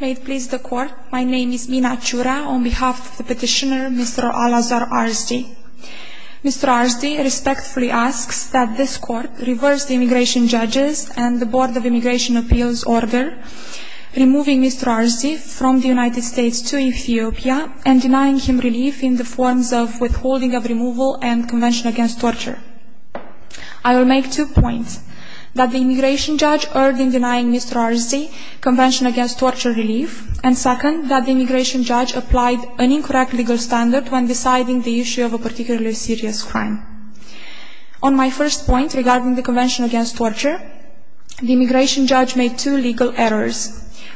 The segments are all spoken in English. May it please the Court, my name is Mina Aciura on behalf of the petitioner Mr. Alazar Arsdi. Mr. Arsdi respectfully asks that this Court reverse the Immigration Judges and the Board of Immigration Appeals order removing Mr. Arsdi from the United States to Ethiopia and denying him relief in the forms of withholding of removal and Convention Against Torture. I will make two points. That the Immigration Judge erred in denying Mr. Arsdi Convention Against Torture relief and second, that the Immigration Judge applied an incorrect legal standard when deciding the issue of a particularly serious crime. On my first point regarding the Convention Against Torture, the Immigration Judge made two legal errors.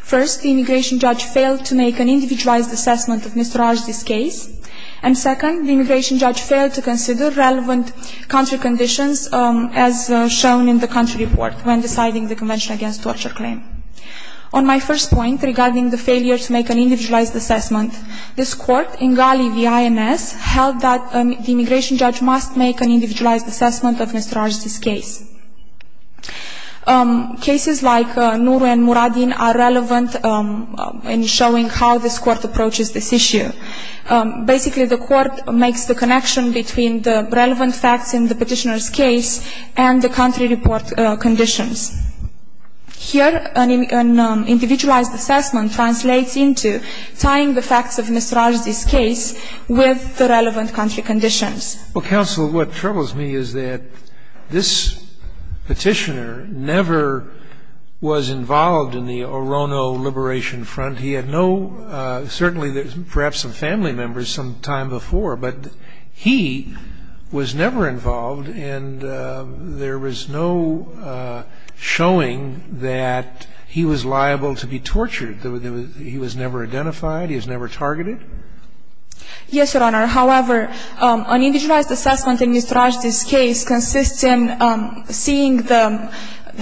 First, the Immigration Judge failed to make an individualized assessment of Mr. Arsdi's case and second, the Immigration Judge failed to consider relevant country conditions as shown in the country report when deciding the Convention Against Torture claim. On my first point regarding the failure to make an individualized assessment, this Court in Gali v. INS held that the Immigration Judge must make an individualized assessment of Mr. Arsdi's case. Cases like Nuru and Muradin are relevant in showing how this Court approaches this issue. Basically, the Court makes the connection between the relevant facts in the Petitioner's case and the country report conditions. Here, an individualized assessment translates into tying the facts of Mr. Arsdi's case with the relevant country conditions. Well, Counsel, what troubles me is that this Petitioner never was involved in the Orono Liberation Front. He had no, certainly perhaps some family members sometime before, but he was never involved and there was no showing that he was liable to be tortured. He was never identified. He was never targeted. Yes, Your Honor. However, an individualized assessment in Mr. Arsdi's case consists in seeing the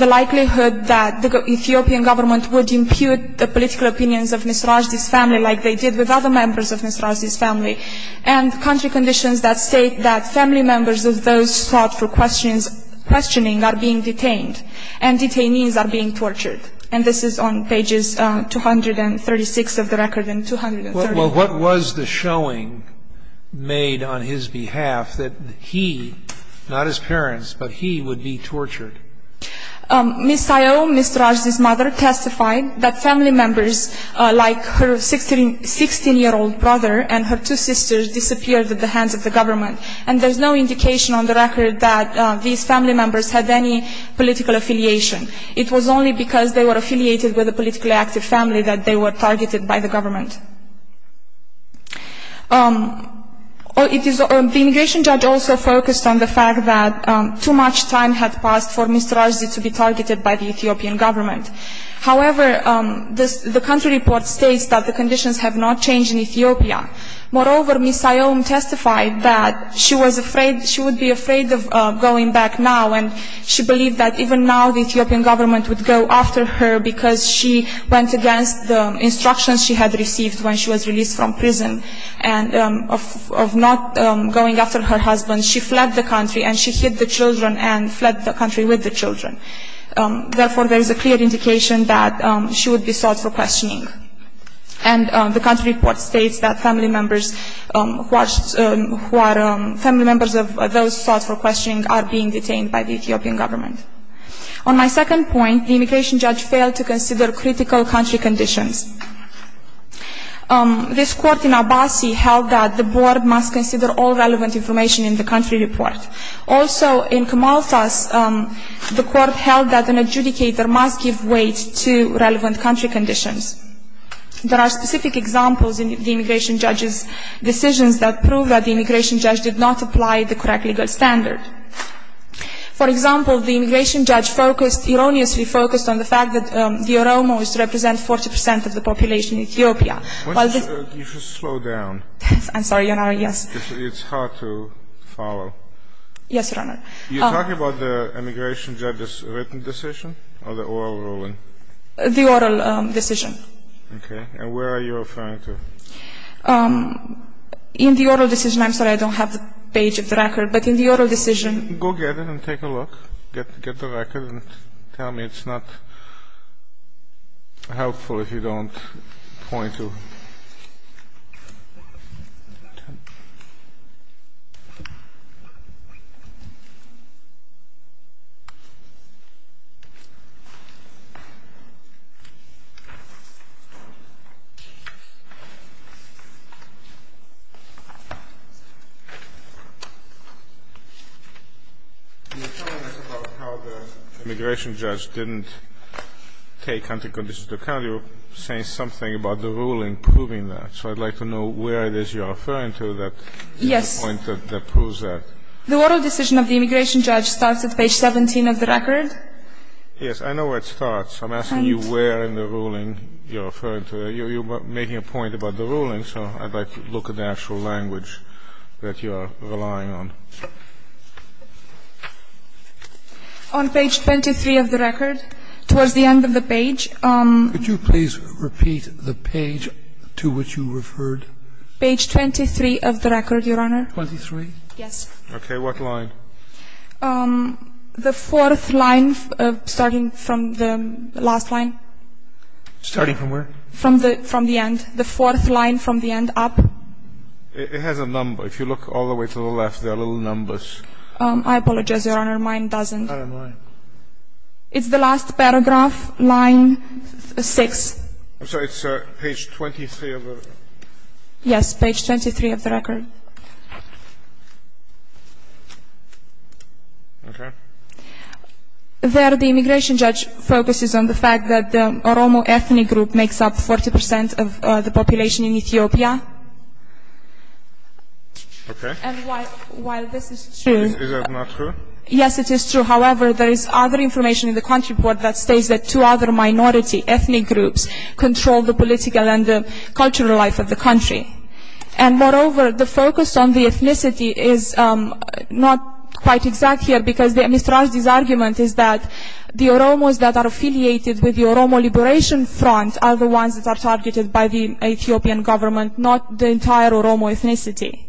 likelihood that the Ethiopian government would impute the political opinions of Mr. Arsdi's family like they did with other members of Mr. Arsdi's family and country conditions that state that family members of those sought for questioning are being detained and detainees are being tortured. And this is on pages 236 of the record and 234. Well, what was the showing made on his behalf that he, not his parents, but he would be tortured? Ms. Sayo, Ms. Arsdi's mother, testified that family members like her 16-year-old brother and her two sisters disappeared at the hands of the government. And there's no indication on the record that these family members had any political affiliation. It was only because they were affiliated with a politically active family that they were targeted by the government. The immigration judge also focused on the fact that too much time had passed for Mr. Arsdi to be targeted by the Ethiopian government. However, the country report states that the conditions have not changed in Ethiopia. Moreover, Ms. Sayo testified that she was afraid, she would be afraid of going back now and she believed that even now the Ethiopian government would go after her because she went against the instructions she had received when she was released from prison and of not going after her husband. She fled the country and she hid the children and fled the country with the children. Therefore, there is a clear indication that she would be sought for questioning. And the country report states that family members who are family members of those sought for questioning are being detained by the Ethiopian government. On my second point, the immigration judge failed to consider critical country conditions. This court in Abassi held that the board must consider all relevant information in the country report. Also, in Kamalthas, the court held that an adjudicator must give weight to relevant country conditions. There are specific examples in the immigration judge's decisions that prove that the immigration judge did not apply the correct legal standard. For example, the immigration judge focused, erroneously focused on the fact that the Oromo is to represent 40% of the population in Ethiopia. You should slow down. I'm sorry, Your Honor. Yes. It's hard to follow. Yes, Your Honor. You're talking about the immigration judge's written decision or the oral ruling? The oral decision. Okay. And where are you referring to? In the oral decision. I'm sorry, I don't have the page of the record. But in the oral decision Go get it and take a look. Get the record and tell me it's not helpful if you don't point to it. You're telling us about how the immigration judge didn't take country conditions into account. You're saying something about the ruling proving that. So I'd like to know where it is you're referring to that gives a point that proves that. Yes. The oral decision of the immigration judge starts at page 17 of the record. Yes. I know where it starts. I'm asking you where in the ruling you're referring to. You're making a point about the ruling. You're making a point about the ruling. So I'd like to look at the actual language that you're relying on. On page 23 of the record, towards the end of the page. Could you please repeat the page to which you referred? Page 23 of the record, Your Honor. 23? Yes. Okay. What line? The fourth line starting from the last line. Starting from where? From the end. The fourth line from the end up. It has a number. If you look all the way to the left, there are little numbers. I apologize, Your Honor. Mine doesn't. I don't mind. It's the last paragraph, line 6. I'm sorry. It's page 23 of the record. Yes. Page 23 of the record. Okay. There, the immigration judge focuses on the fact that the Oromo ethnic group makes up 40% of the population in Ethiopia. Okay. And while this is true. Is that not true? Yes, it is true. However, there is other information in the country report that states that two other minority ethnic groups control the political and the cultural life of the country. And moreover, the focus on the ethnicity is not quite exact here, because Mr. Rajdi's argument is that the Oromos that are affiliated with the Oromo Liberation Front are the ones that are targeted by the Ethiopian government, not the entire Oromo ethnicity.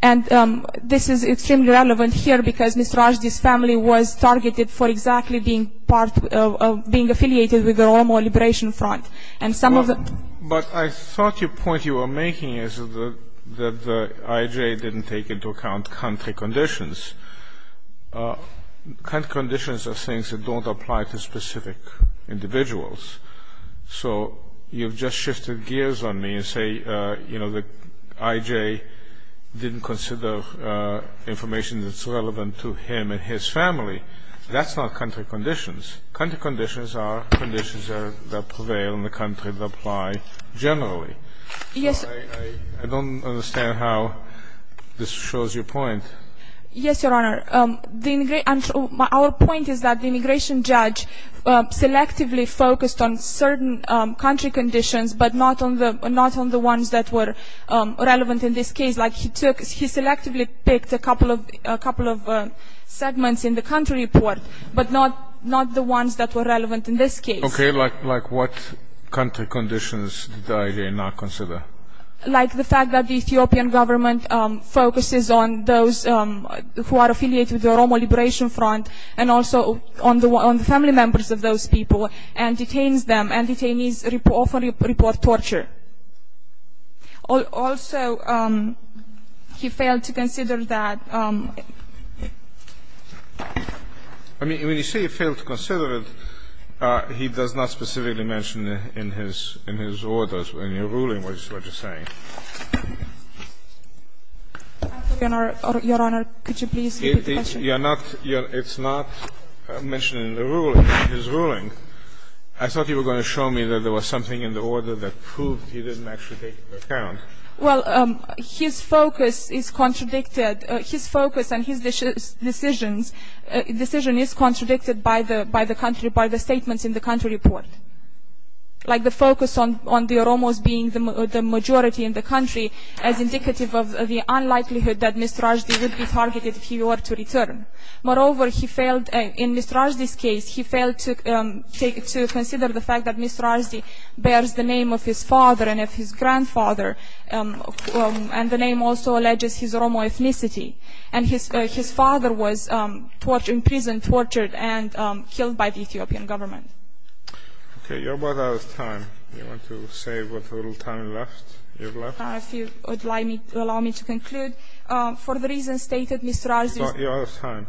And this is extremely relevant here because Mr. Rajdi's family was targeted for exactly being affiliated with the Oromo Liberation Front. But I thought your point you were making is that the IJ didn't take into account country conditions. Country conditions are things that don't apply to specific individuals. So you've just shifted gears on me and say, you know, the IJ didn't consider information that's relevant to him and his family. That's not country conditions. Country conditions are conditions that prevail in the country that apply generally. Yes. I don't understand how this shows your point. Yes, Your Honor. Our point is that the immigration judge selectively focused on certain country conditions, but not on the ones that were relevant in this case. Like he selectively picked a couple of segments in the country report, but not the ones that were relevant in this case. Okay. Like what country conditions did the IJ not consider? Like the fact that the Ethiopian government focuses on those who are affiliated with the Oromo Liberation Front and also on the family members of those people and detains them, and detainees often report torture. Also, he failed to consider that. I mean, when you say he failed to consider it, he does not specifically mention in his orders, in your ruling, what you're saying. Your Honor, could you please repeat the question? It's not mentioned in the ruling, in his ruling. I thought you were going to show me that there was something in the order that proved he didn't actually take it into account. Well, his focus is contradicted. His focus and his decision is contradicted by the statements in the country report. Like the focus on the Oromos being the majority in the country as indicative of the unlikelihood that Mr. Rajdi would be targeted if he were to return. Moreover, he failed, in Mr. Rajdi's case, he failed to consider the fact that Mr. Rajdi bears the name of his father and of his grandfather, and the name also alleges his Oromo ethnicity. And his father was imprisoned, tortured, and killed by the Ethiopian government. Okay, you're both out of time. Do you want to say what little time you have left? If you would allow me to conclude, for the reasons stated, Mr. Rajdi's You're out of time.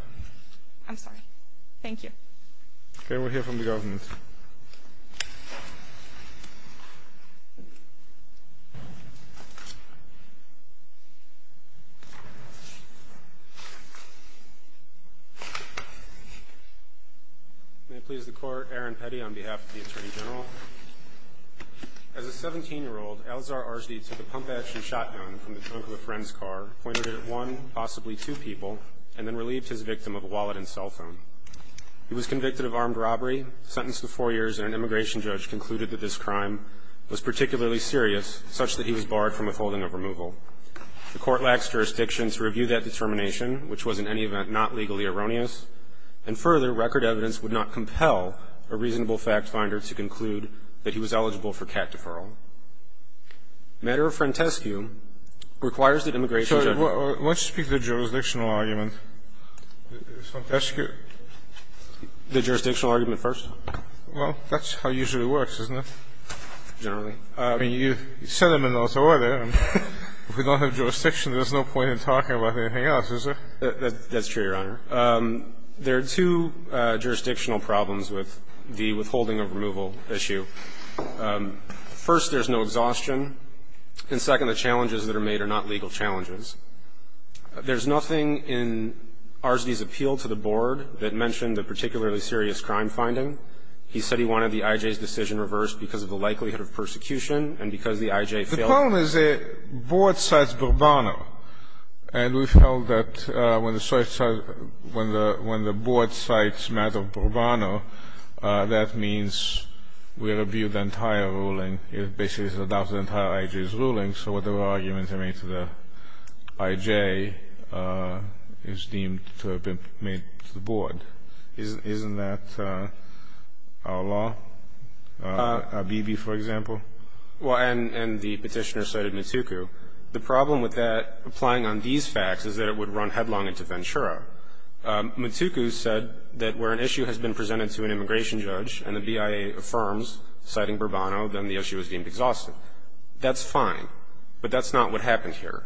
I'm sorry. Thank you. Okay, we'll hear from the government. May it please the Court, Aaron Petty on behalf of the Attorney General. As a 17-year-old, Alzar Rajdi took a pump-action shotgun from the trunk of a friend's car, pointed it at one, possibly two people, and then relieved his victim of a wallet and cell phone. He was convicted of armed robbery, sentenced to four years, and an immigration judge concluded that this crime was particularly serious, such that he was barred from withholding of removal. The Court lacks jurisdiction to review that determination, which was in any event not legally erroneous. And further, record evidence would not compel a reasonable fact-finder to conclude that he was eligible for cat deferral. Matter of frontescue requires that immigration judge Why don't you speak to the jurisdictional argument? Frontescue. The jurisdictional argument first. Well, that's how it usually works, isn't it? Generally. I mean, you set them in those order. If we don't have jurisdiction, there's no point in talking about anything else, is there? That's true, Your Honor. There are two jurisdictional problems with the withholding of removal issue. First, there's no exhaustion. And second, the challenges that are made are not legal challenges. There's nothing in Arzdi's appeal to the board that mentioned a particularly serious crime finding. He said he wanted the IJ's decision reversed because of the likelihood of persecution and because the IJ failed. The problem is the board cites Bourbano. And we felt that when the board cites matter of Bourbano, that means we rebuke the entire ruling. It basically adopts the entire IJ's ruling. So whatever arguments are made to the IJ is deemed to have been made to the board. Isn't that our law? Abibi, for example? Well, and the Petitioner cited Matuku. The problem with that applying on these facts is that it would run headlong into Ventura. Matuku said that where an issue has been presented to an immigration judge and the BIA affirms citing Bourbano, then the issue is deemed exhausted. That's fine, but that's not what happened here.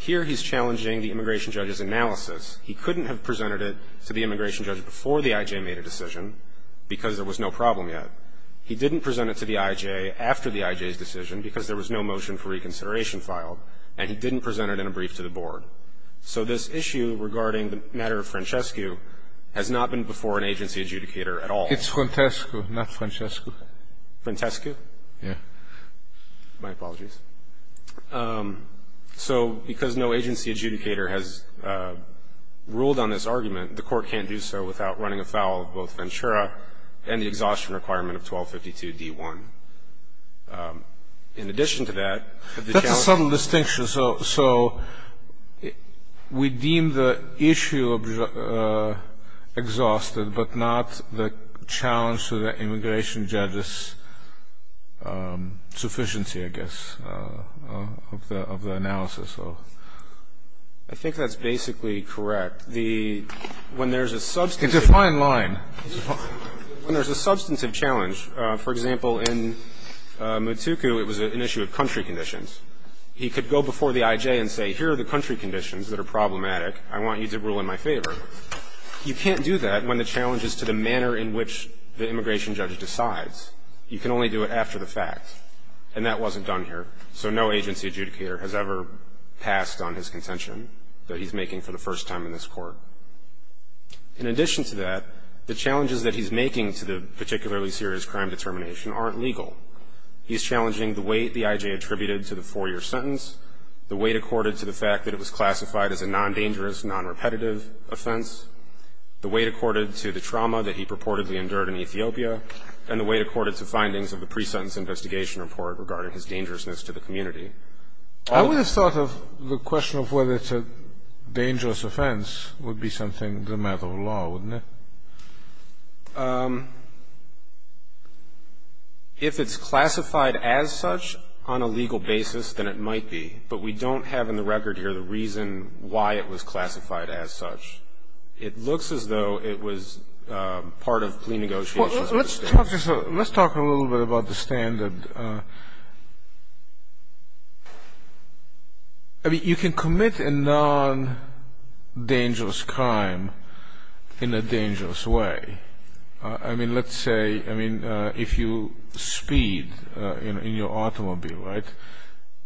Here he's challenging the immigration judge's analysis. He couldn't have presented it to the immigration judge before the IJ made a decision because there was no problem yet. He didn't present it to the IJ after the IJ's decision because there was no motion for reconsideration filed. And he didn't present it in a brief to the board. So this issue regarding the matter of Francescu has not been before an agency adjudicator at all. It's Frantescu, not Francescu. Frantescu? Yes. My apologies. So because no agency adjudicator has ruled on this argument, the Court can't do so without running afoul of both Ventura and the exhaustion requirement of 1252d-1. In addition to that, if the challenge... That's a subtle distinction. So we deem the issue exhausted, but not the challenge to the immigration judge's sufficiency, I guess, of the analysis. I think that's basically correct. When there's a substantive... It's a fine line. When there's a substantive challenge, for example, in Mutuku, it was an issue of country conditions. He could go before the IJ and say, here are the country conditions that are problematic. I want you to rule in my favor. You can't do that when the challenge is to the manner in which the immigration judge decides. You can only do it after the fact. And that wasn't done here. So no agency adjudicator has ever passed on his contention that he's making for the U.S. Court. In addition to that, the challenges that he's making to the particularly serious crime determination aren't legal. He's challenging the weight the IJ attributed to the four-year sentence, the weight accorded to the fact that it was classified as a non-dangerous, non-repetitive offense, the weight accorded to the trauma that he purportedly endured in Ethiopia, and the weight accorded to findings of the pre-sentence investigation report regarding his dangerousness to the community. I would have thought of the question of whether it's a dangerous offense would be something the matter of law, wouldn't it? If it's classified as such on a legal basis, then it might be. But we don't have in the record here the reason why it was classified as such. It looks as though it was part of plenegotiations. Let's talk a little bit about the standard. I mean, you can commit a non-dangerous crime in a dangerous way. I mean, let's say, I mean, if you speed in your automobile, right,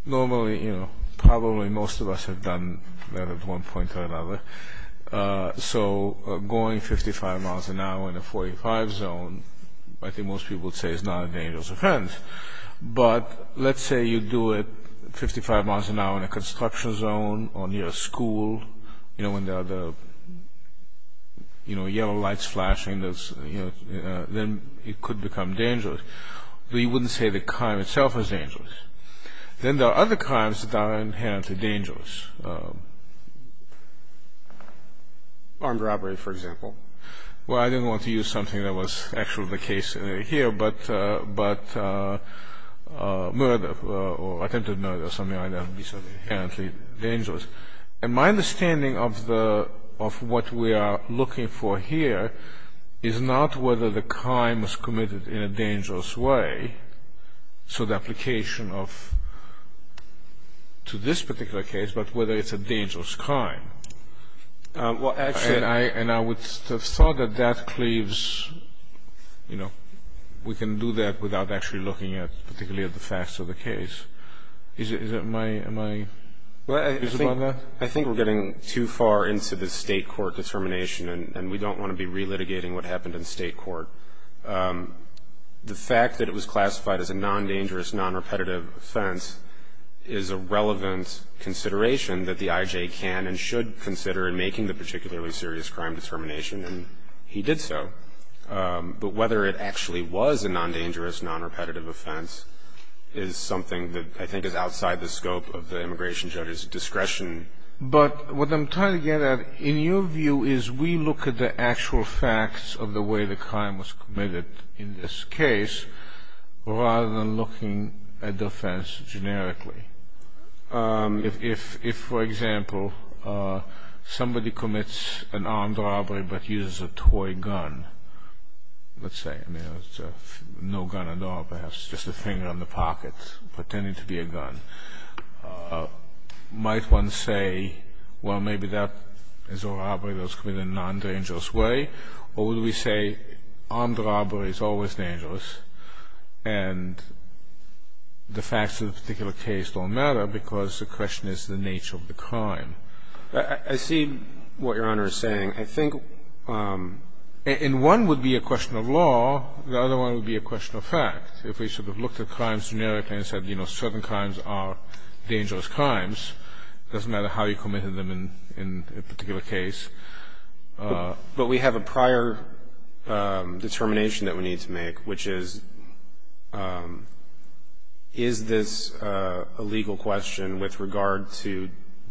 normally, you know, probably most of us have done that at one point or another. So going 55 miles an hour in a 45 zone, I think most people would say is not a dangerous offense. But let's say you do it 55 miles an hour in a construction zone or near a school, you know, when there are the yellow lights flashing, then it could become dangerous. We wouldn't say the crime itself is dangerous. Then there are other crimes that are inherently dangerous. Armed robbery, for example. Well, I didn't want to use something that was actually the case here, but murder or attempted murder or something like that would be something inherently dangerous. And my understanding of what we are looking for here is not whether the crime was committed in a dangerous way, so the application of, to this particular case, but whether it's a dangerous crime. Well, actually. And I would have thought that that cleaves, you know, we can do that without actually looking at particularly at the facts of the case. Is it my, am I? Well, I think we're getting too far into the State court determination, and we don't want to be relitigating what happened in State court. The fact that it was classified as a non-dangerous, non-repetitive offense is a relevant consideration that the IJ can and should consider in making the particularly serious crime determination, and he did so. But whether it actually was a non-dangerous, non-repetitive offense is something that I think is outside the scope of the immigration judge's discretion. But what I'm trying to get at, in your view, is we look at the actual facts of the way the crime was committed in this case, rather than looking at the offense generically. If, for example, somebody commits an armed robbery but uses a toy gun, let's say, I mean, no gun at all, perhaps just a finger in the pocket, pretending to be a gun, might one say, well, maybe that is a robbery that was committed in a non-dangerous way, or would we say armed robbery is always dangerous and the facts of the particular case don't matter because the question is the nature of the crime? I see what Your Honor is saying. I think one would be a question of law, the other one would be a question of fact. If we should have looked at crimes generically and said, you know, certain crimes are dangerous crimes, it doesn't matter how you committed them in a particular case. But we have a prior determination that we need to make, which is, is this a legal question with regard to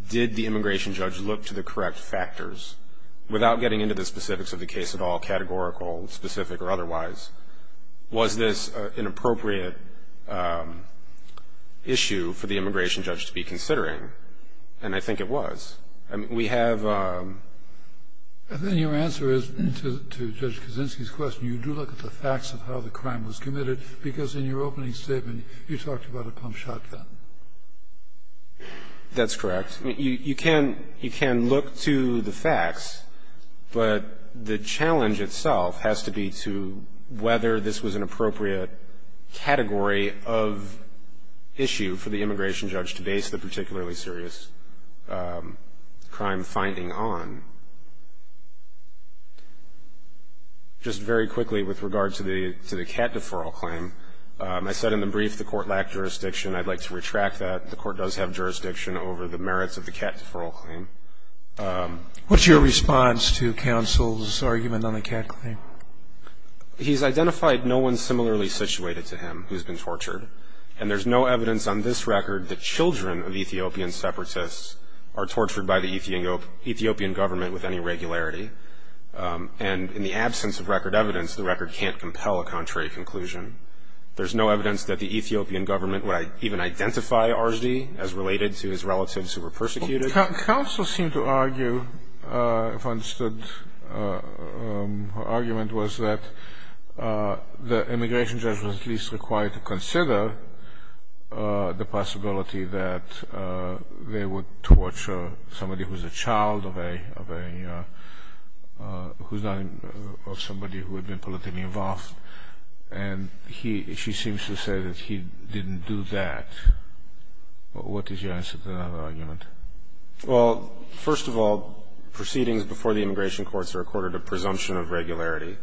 did the immigration judge look to the correct factors, without getting into the specifics of the case at all, categorical, specific, or otherwise? Was this an appropriate issue for the immigration judge to be considering? And I think it was. I mean, we have... And then your answer is, to Judge Kaczynski's question, you do look at the facts of how the crime was committed, because in your opening statement you talked about a pump shotgun. That's correct. I mean, you can look to the facts, but the challenge itself has to be to whether this was an appropriate category of issue for the immigration judge to base the particularly serious crime finding on. Just very quickly with regard to the cat deferral claim, I said in the brief the Court lacked jurisdiction. I'd like to retract that. The Court does have jurisdiction over the merits of the cat deferral claim. What's your response to counsel's argument on the cat claim? He's identified no one similarly situated to him who's been tortured, and there's no evidence on this record that children of Ethiopian separatists are tortured by the Ethiopian government with any regularity. And in the absence of record evidence, the record can't compel a contrary conclusion. There's no evidence that the Ethiopian government would even identify Arzdi as related to his relatives who were persecuted. Counsel seemed to argue, if I understood her argument, was that the immigration judge was at least required to consider the possibility that they would torture somebody who's a child of somebody who had been politically involved. And he or she seems to say that he didn't do that. What is your answer to that argument? Well, first of all, proceedings before the immigration courts are accorded a presumption of regularity.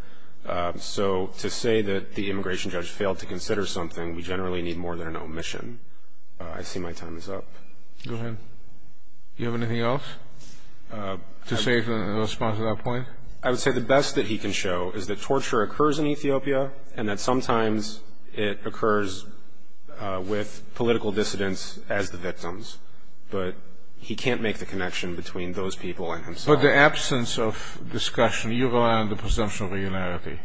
So to say that the immigration judge failed to consider something, we generally need more than an omission. I see my time is up. Go ahead. Do you have anything else to say in response to that point? I would say the best that he can show is that torture occurs in Ethiopia and that sometimes it occurs with political dissidents as the victims. But he can't make the connection between those people and himself. But the absence of discussion, you rely on the presumption of regularity.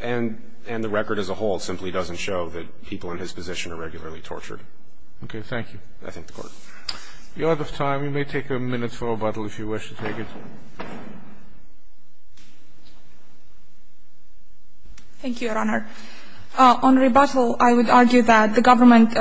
And the record as a whole simply doesn't show that people in his position are regularly tortured. Okay, thank you. I thank the Court. We are out of time. We may take a minute for rebuttal if you wish to take it. Thank you, Your Honor. On rebuttal, I would argue that the government's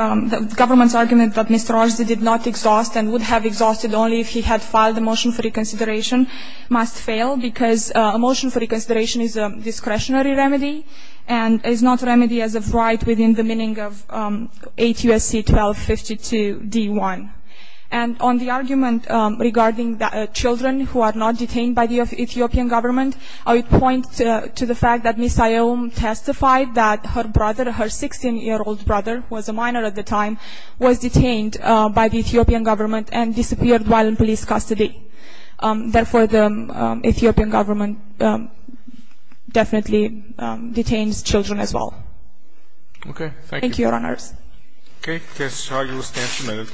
argument that Mr. Rajdi did not exhaust and would have exhausted only if he had filed a motion for reconsideration must fail because a motion for reconsideration is a discretionary remedy and is not a remedy as of right within the meaning of 8 U.S.C. 1252 D.1. And on the argument regarding children who are not detained by the Ethiopian government, I would point to the fact that Ms. Iyom testified that her brother, her 16-year-old brother who was a minor at the time, was detained by the Ethiopian government and disappeared while in police custody. Therefore, the Ethiopian government definitely detains children as well. Okay, thank you. Thank you, Your Honors. Okay, that's how you will stand for a minute.